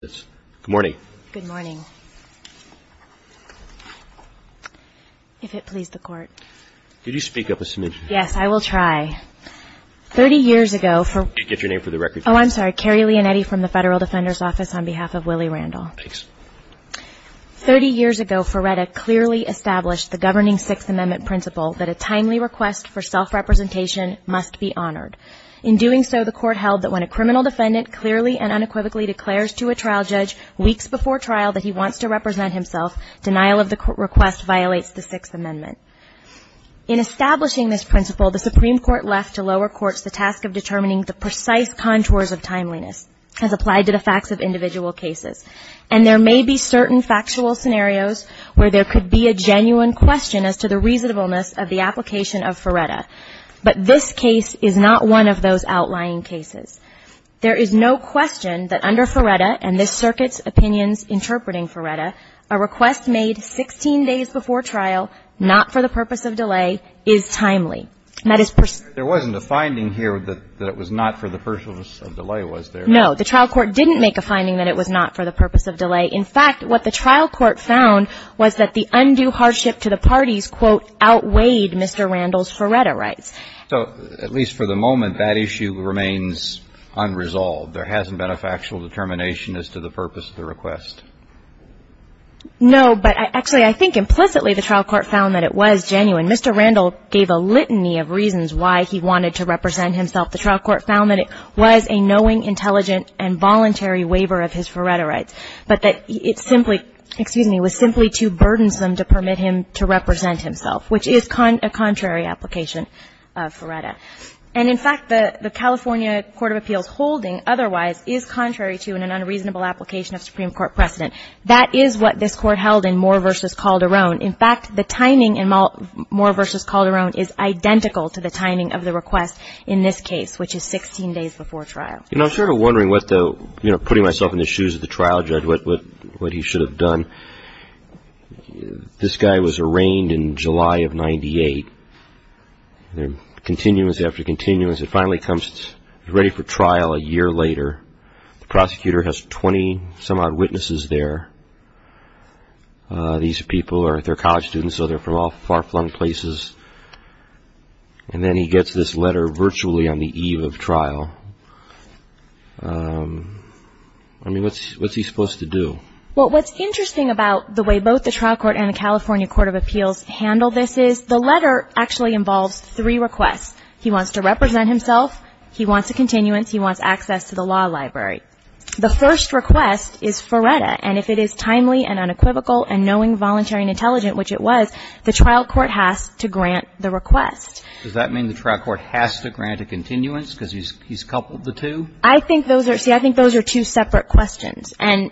Good morning. If it please the Court. Thirty years ago, Feretta clearly established the governing Sixth Amendment principle that a timely request for self-representation must be honored. In doing so, the Court held that when a criminal defendant clearly and unequivocally declares to a trial judge weeks before trial that he wants to represent himself, denial of the request violates the Sixth Amendment. In establishing this principle, the Supreme Court left to lower courts the task of determining the precise contours of timeliness, as applied to the facts of individual cases. And there may be certain factual scenarios where there could be a genuine question as to the reasonableness of the application of Feretta. But this case is not one of those outlying cases. There is no question that under Feretta, and this circuit's opinions interpreting Feretta, a request made 16 days before trial, not for the purpose of delay, is timely. And that is per se. There wasn't a finding here that it was not for the purpose of delay, was there? No, the trial court didn't make a finding that it was not for the purpose of delay. In fact, what the trial court found was that the undue hardship to the parties, quote, outweighed Mr. Randall's Feretta rights. So, at least for the moment, that issue remains unresolved. There hasn't been a factual determination as to the purpose of the request? No, but actually, I think implicitly the trial court found that it was genuine. Mr. Randall gave a litany of reasons why he wanted to represent himself. The trial court found that it was a knowing, intelligent, and voluntary waiver of his Feretta rights. But that it simply, excuse me, was simply too burdensome to permit him to represent himself, which is a contrary application of Feretta. And, in fact, the California Court of Appeals holding otherwise is contrary to an unreasonable application of Supreme Court precedent. That is what this Court held in Moore v. Calderon. In fact, the timing in Moore v. Calderon is identical to the timing of the request in this case, which is 16 days before trial. You know, I'm sort of wondering what the, you know, putting myself in the shoes of the trial judge, what he should have done. This guy was arraigned in July of 98. Continuance after continuance, it finally comes, ready for trial a year later. The prosecutor has 20-some-odd witnesses there. These people are, they're college students, so they're from all far-flung places. And then he gets this letter virtually on the eve of trial. I mean, what's he supposed to do? Well, what's interesting about the way both the trial court and the California Court of Appeals handle this is the letter actually involves three requests. He wants to represent himself, he wants a continuance, he wants access to the law library. The first request is Feretta, and if it is timely and unequivocal and knowing, voluntary and intelligent, which it was, the trial court has to grant the request. Does that mean the trial court has to grant a continuance because he's coupled the two? I think those are, see, I think those are two separate questions. And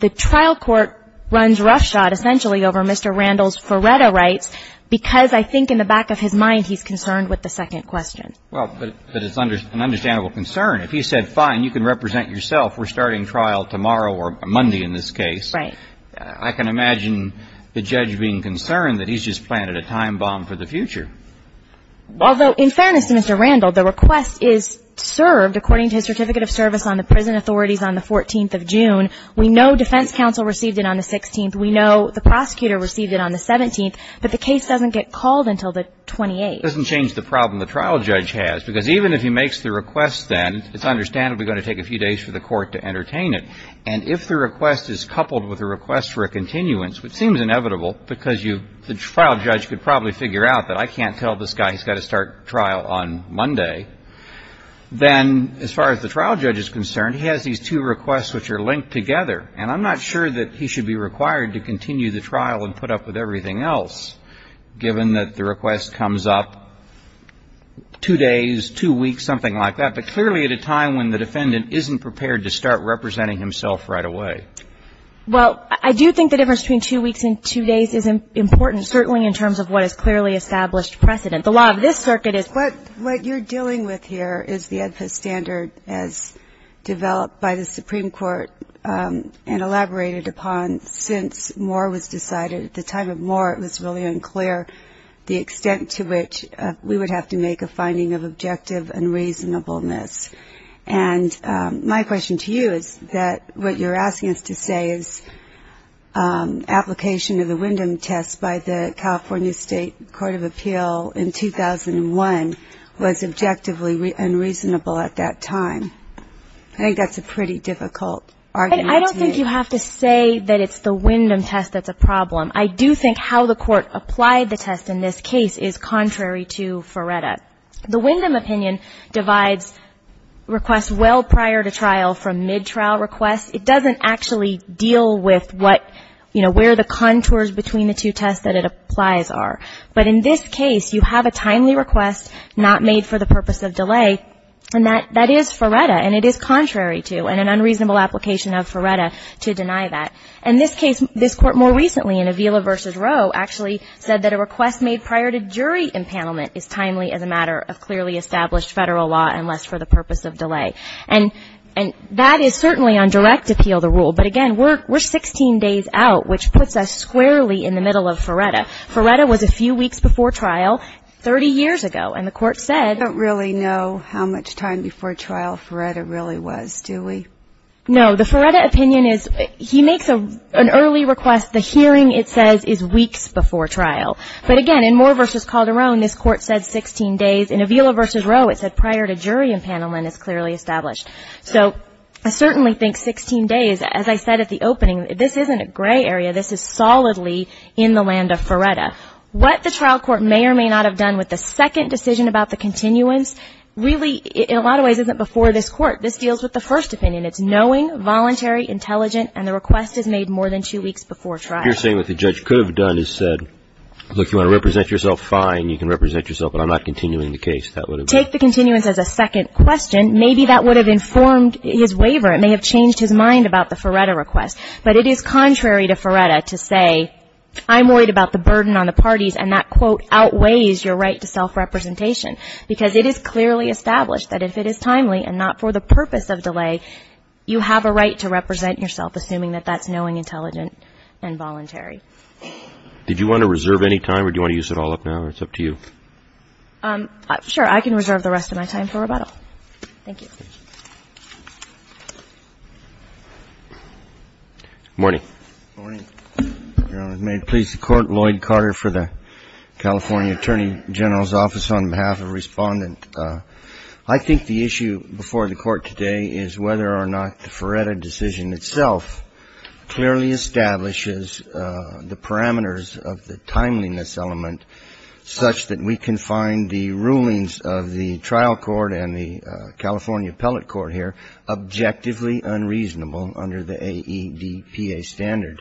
the trial court runs roughshod essentially over Mr. Randall's Feretta rights because I think in the back of his mind he's concerned with the second question. Well, but it's an understandable concern. If he said, fine, you can represent yourself, we're starting trial tomorrow or Monday in this case. Right. I can imagine the judge being concerned that he's just planted a time bomb for the future. Although, in fairness to Mr. Randall, the request is served according to his certificate of service on the prison authorities on the 14th of June. We know defense counsel received it on the 16th. We know the prosecutor received it on the 17th, but the case doesn't get called until the 28th. It doesn't change the problem the trial judge has because even if he makes the request then, it's understandably going to take a few days for the court to entertain it. And if the request is coupled with a request for a continuance, which seems inevitable because the trial judge could probably figure out that I can't tell this guy he's got to start trial on Monday, then as far as the trial judge is concerned, he has these two requests which are linked together. And I'm not sure that he should be required to continue the trial and put up with everything else given that the request comes up two days, two weeks, something like that, but clearly at a time when the defendant isn't prepared to start representing himself right away. Well, I do think the difference between two weeks and two days is important, certainly in terms of what is clearly established precedent. The law of this circuit is. What you're dealing with here is the EDFA standard as developed by the Supreme Court and elaborated upon since Moore was decided. At the time of Moore, it was really unclear the extent to which we would have to make a finding of objection. It was a matter of objective and reasonableness. And my question to you is that what you're asking us to say is application of the Wyndham test by the California State Court of Appeal in 2001 was objectively unreasonable at that time. I think that's a pretty difficult argument to make. I don't think you have to say that it's the Wyndham test that's a problem. I do think how the Court applied the test in this case is contrary to Feretta. The Wyndham opinion divides requests well prior to trial from mid-trial requests. It doesn't actually deal with what, you know, where the contours between the two tests that it applies are. But in this case, you have a timely request not made for the purpose of delay, and that is Feretta, and it is contrary to, and an unreasonable application of Feretta to deny that. In this case, this Court more recently in Avila v. Roe actually said that a request made prior to jury empanelment is timely as a matter of clearly established Federal law unless for the purpose of delay. And that is certainly on direct appeal, the rule. But again, we're 16 days out, which puts us squarely in the middle of Feretta. Feretta was a few weeks before trial 30 years ago, and the Court said ---- an early request, the hearing it says is weeks before trial. But again, in Moore v. Calderon, this Court said 16 days. In Avila v. Roe, it said prior to jury empanelment is clearly established. So I certainly think 16 days, as I said at the opening, this isn't a gray area. This is solidly in the land of Feretta. What the trial court may or may not have done with the second decision about the continuance, really in a lot of ways isn't before this Court. This deals with the first opinion. It's knowing, voluntary, intelligent, and the request is made more than two weeks before trial. You're saying what the judge could have done is said, look, you want to represent yourself, fine, you can represent yourself, but I'm not continuing the case, that would have been ---- Take the continuance as a second question, maybe that would have informed his waiver. It may have changed his mind about the Feretta request. But it is contrary to Feretta to say, I'm worried about the burden on the parties, and that quote outweighs your right to self-representation, because it is clearly established that if it is timely and not for the purpose of delay, you have a right to represent yourself, assuming that that's knowing, intelligent, and voluntary. Did you want to reserve any time, or do you want to use it all up now, or it's up to you? Sure. I can reserve the rest of my time for rebuttal. Thank you. Good morning. Good morning, Your Honor. May it please the Court, Lloyd Carter for the California Attorney General's Office. On behalf of Respondent, I think the issue before the Court today is whether or not the Feretta decision itself clearly establishes the parameters of the timeliness element such that we can find the rulings of the trial court and the California appellate court here objectively unreasonable under the AEDPA standard.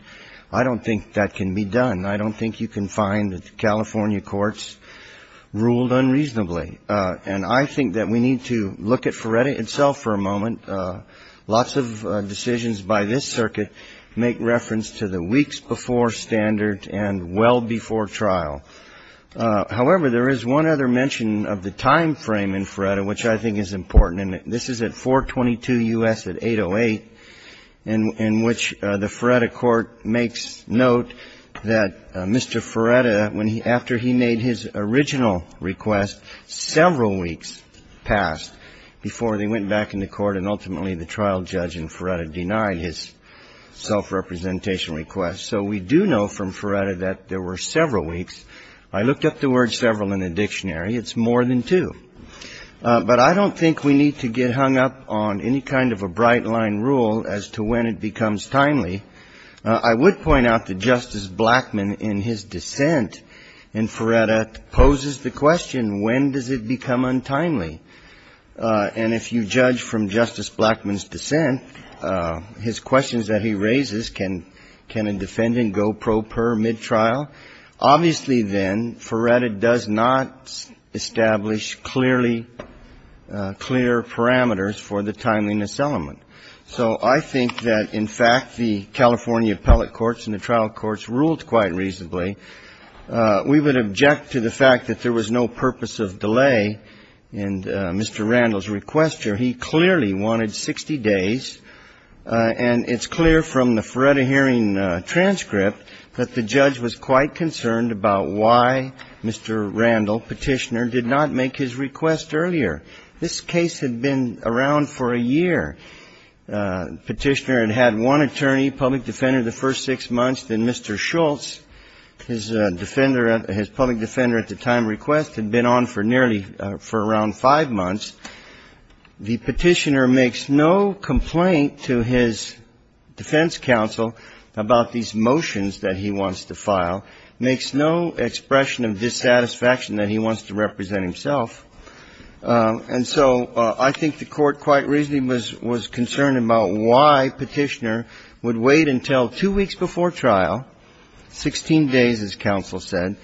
I don't think that can be done. I don't think you can find California courts ruled unreasonably. And I think that we need to look at Feretta itself for a moment. Lots of decisions by this circuit make reference to the weeks before standard and well before trial. However, there is one other mention of the time frame in Feretta, which I think is important. And this is at 422 U.S. at 808, in which the Feretta court makes note that Mr. Feretta, after he made his original request, several weeks passed before they went back in the court and ultimately the trial judge in Feretta denied his self-representation request. So we do know from Feretta that there were several weeks. I looked up the word several in the dictionary. It's more than two. But I don't think we need to get hung up on any kind of a bright-line rule as to when it becomes timely. I would point out that Justice Blackmun, in his dissent in Feretta, poses the question, when does it become untimely? And if you judge from Justice Blackmun's dissent, his questions that he raises, can a defendant go pro per mid-trial? Obviously, then, Feretta does not establish clearly clear parameters for the timeliness element. So I think that, in fact, the California appellate courts and the trial courts ruled quite reasonably. We would object to the fact that there was no purpose of delay in Mr. Randall's request here. He clearly wanted 60 days. And it's clear from the Feretta hearing transcript that the judge was quite concerned about why Mr. Randall, Petitioner, did not make his request earlier. This case had been around for a year. Petitioner had had one attorney, public defender, the first six months. Then Mr. Schultz, his public defender at the time request, had been on for nearly for around five months. The Petitioner makes no complaint to his defense counsel about these motions that he wants to file, makes no expression of dissatisfaction that he wants to represent himself. And so I think the Court quite reasonably was concerned about why Petitioner would wait until two weeks before trial, 16 days, as counsel said,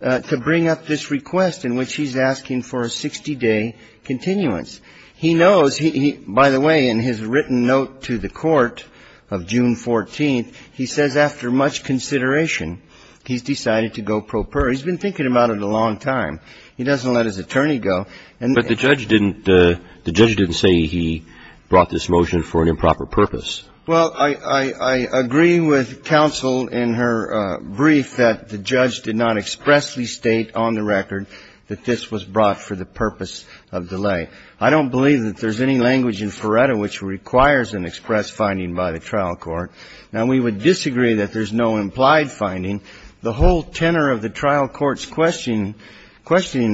to bring up this trial. It's to delay the trial. And he's made a three-day continuance. He knows he – by the way, in his written note to the Court of June 14th, he says after much consideration, he's decided to go pro per. He's been thinking about it a long time. He doesn't let his attorney go. But the judge didn't say he brought this motion for an improper purpose. Well, I agree with counsel in her brief that the judge did not expressly state on the record that this was brought for the purpose of delay. I don't believe that there's any language in Feretta which requires an express finding by the trial court. Now, we would disagree that there's no implied finding. The whole tenor of the trial court's questioning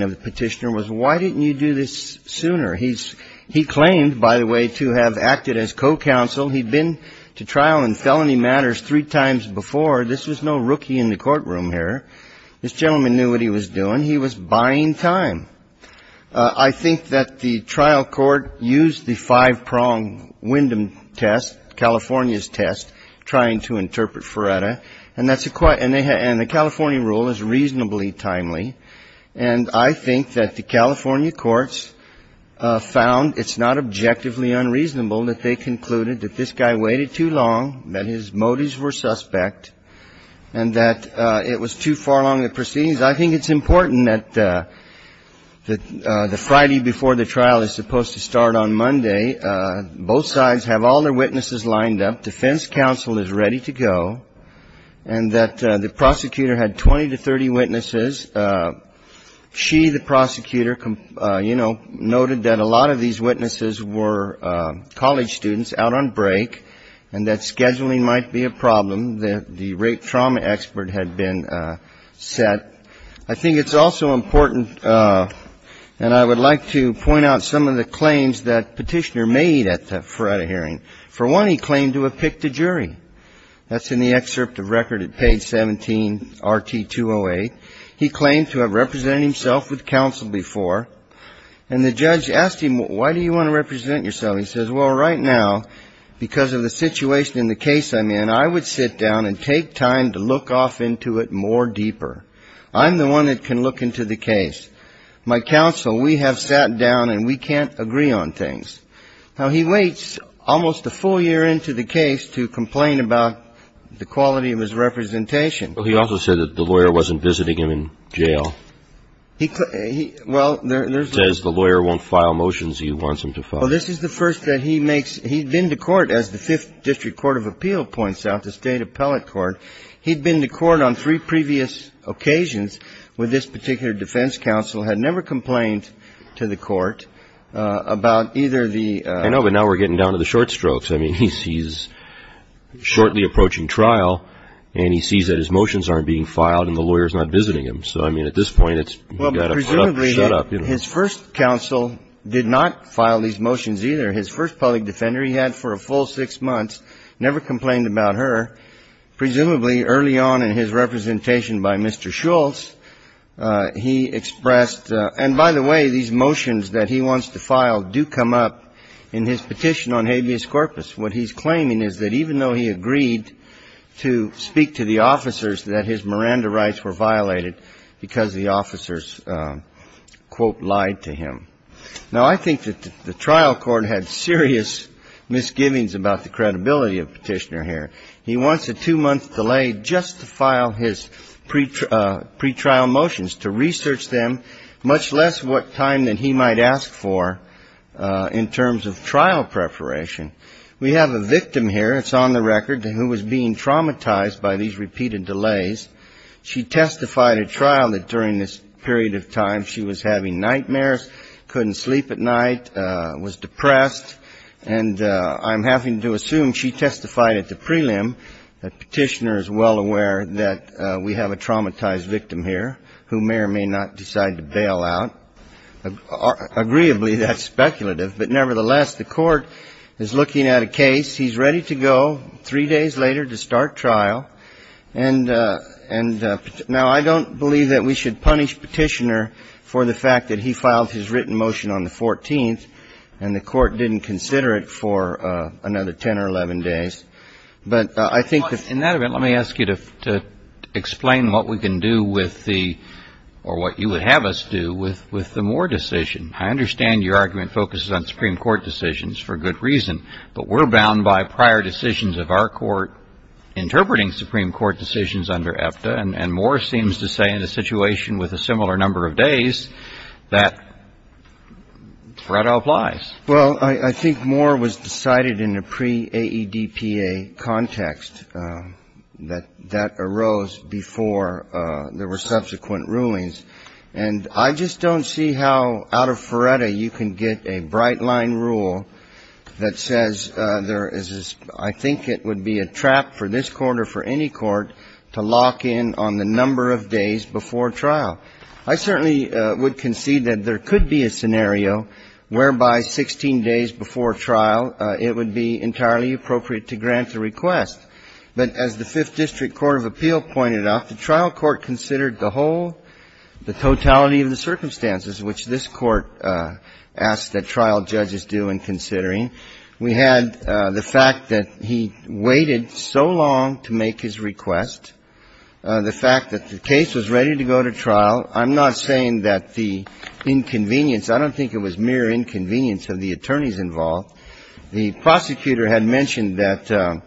of Petitioner was why didn't you do this sooner? He claimed, by the way, to have acted as co-counsel. He'd been to trial in felony matters three times before. This was no rookie in the courtroom here. This gentleman knew what he was doing. He was buying time. I think that the trial court used the five-prong Wyndham test, California's test, trying to interpret Feretta. And the California rule is reasonably timely. And I think that the California courts found it's not objectively unreasonable that they concluded that this guy waited too long, that his motives were suspect, and that it was too far along the proceedings. I think it's important that the Friday before the trial is supposed to start on Monday. Both sides have all their witnesses lined up. Defense counsel is ready to go. And that the prosecutor had 20 to 30 witnesses. She, the prosecutor, you know, noted that a lot of these witnesses were college students out on break, and that scheduling might be a problem, that the rape trauma expert had been set. I think it's also important, and I would like to point out some of the claims that Petitioner made at the Feretta hearing. For one, he claimed to have picked a jury. That's in the excerpt of record at page 17, RT 208. He claimed to have represented himself with counsel before. And the judge asked him, why do you want to represent yourself? He says, well, right now, because of the situation in the case I'm in, I would sit down and take time to look off into it more deeper. I'm the one that can look into the case. My counsel, we have sat down, and we can't agree on things. Now, he waits almost a full year into the case to complain about the quality of his representation. Well, he also said that the lawyer wasn't visiting him in jail. He, well, there's. He says the lawyer won't file motions he wants him to file. Well, this is the first that he makes. He'd been to court, as the Fifth District Court of Appeal points out, the State Appellate Court. He'd been to court on three previous occasions with this particular defense counsel, had never complained to the court about either the. I know, but now we're getting down to the short strokes. I mean, he's shortly approaching trial, and he sees that his motions aren't being filed, and the lawyer's not visiting him. So, I mean, at this point, it's got to shut up. His first counsel did not file these motions either. His first public defender he had for a full six months never complained about her. Presumably early on in his representation by Mr. Schultz, he expressed, and by the way, these motions that he wants to file do come up in his petition on habeas corpus. What he's claiming is that even though he agreed to speak to the officers, that his Miranda rights were violated because the officers, quote, lied to him. Now, I think that the trial court had serious misgivings about the credibility of Petitioner here. He wants a two-month delay just to file his pretrial motions, to research them, much less what time that he might ask for in terms of trial preparation. We have a victim here that's on the record who was being traumatized by these repeated delays. She testified at trial that during this period of time she was having nightmares, couldn't sleep at night, was depressed. And I'm having to assume she testified at the prelim that Petitioner is well aware that we have a traumatized victim here who may or may not decide to bail out. Agreeably, that's speculative. But nevertheless, the Court is looking at a case. He's ready to go three days later to start trial. And now, I don't believe that we should punish Petitioner for the fact that he filed his written motion on the 14th and the Court didn't consider it for another 10 or 11 days. But I think that in that event, let me ask you to explain what we can do with the or what you would have us do with the Moore decision. I understand your argument focuses on Supreme Court decisions for good reason, but we're bound by prior decisions of our Court interpreting Supreme Court decisions under EFTA. And Moore seems to say in a situation with a similar number of days that FREDA applies. Well, I think Moore was decided in a pre-AEDPA context that that arose before there were subsequent rulings. And I just don't see how out of FREDA you can get a bright-line rule that says there is this I think it would be a trap for this Court or for any court to lock in on the number of days before trial. I certainly would concede that there could be a scenario whereby 16 days before trial, it would be entirely appropriate to grant the request. But as the Fifth District Court of Appeal pointed out, the trial court considered the whole, the totality of the circumstances, which this Court asked that trial judges do in considering. We had the fact that he waited so long to make his request. The fact that the case was ready to go to trial. I'm not saying that the inconvenience, I don't think it was mere inconvenience of the attorneys involved. The prosecutor had mentioned that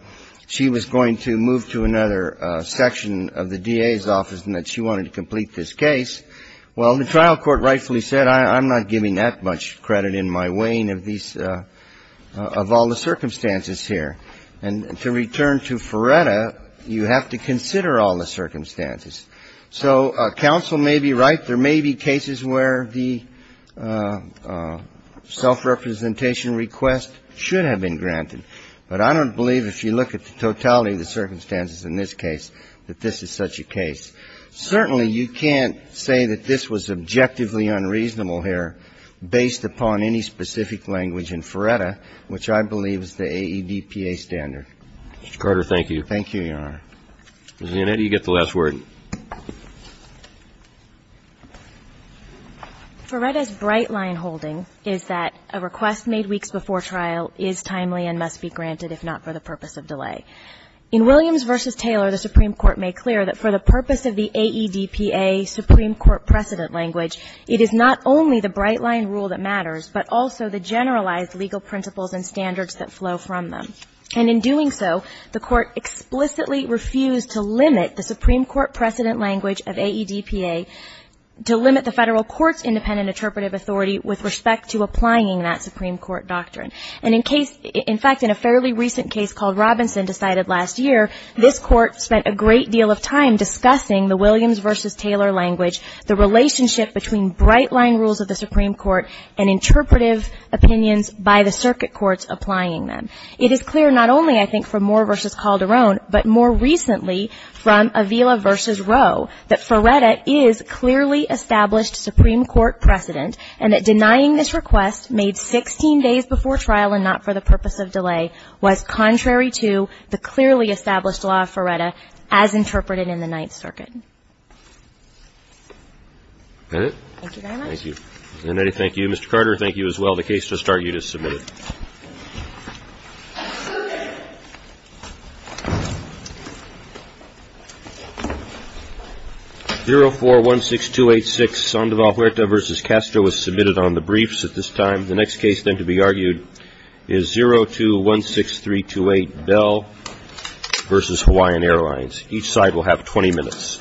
she was going to move to another section of the DA's office and that she wanted to complete this case. Well, the trial court rightfully said, I'm not giving that much credit in my weighing of these, of all the circumstances here. And to return to FREDA, you have to consider all the circumstances. So counsel may be right. There may be cases where the self-representation request should have been granted. But I don't believe if you look at the totality of the circumstances in this case that this is such a case. Certainly, you can't say that this was objectively unreasonable here based upon any specific language in FREDA, which I believe is the AEDPA standard. Mr. Carter, thank you. Thank you, Your Honor. Ms. Leonetti, you get the last word. FREDA's bright line holding is that a request made weeks before trial is timely and must be granted, if not for the purpose of delay. In Williams v. Taylor, the Supreme Court made clear that for the purpose of the AEDPA Supreme Court precedent language, it is not only the bright line rule that matters, but also the generalized legal principles and standards that flow from them. And in doing so, the Court explicitly refused to limit the Supreme Court precedent language of AEDPA to limit the Federal Court's independent interpretive authority with respect to applying that Supreme Court doctrine. And in case, in fact, in a fairly recent case called Robinson decided last year, this Court spent a great deal of time discussing the Williams v. Taylor language, the relationship between bright line rules of the Supreme Court and interpretive opinions by the circuit courts applying them. It is clear not only, I think, from Moore v. Calderon, but more recently from Avila v. Roe, that FREDA is clearly established Supreme Court precedent and that denying this request made 16 days before trial and not for the purpose of delay was contrary to the clearly established law of FREDA as interpreted in the Ninth Circuit. Thank you very much. Thank you. Ms. Kennedy, thank you. Mr. Carter, thank you as well. The case will start you to submit it. 0416286, Sandoval Huerta v. Castro is submitted on the briefs at this time. The next case then to be argued is 0216328, Bell v. Hawaiian Airlines. Each side will have 20 minutes.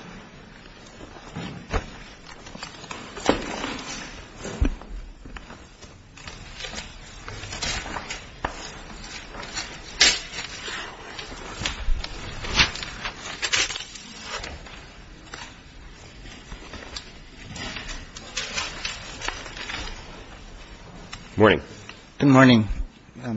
Good morning.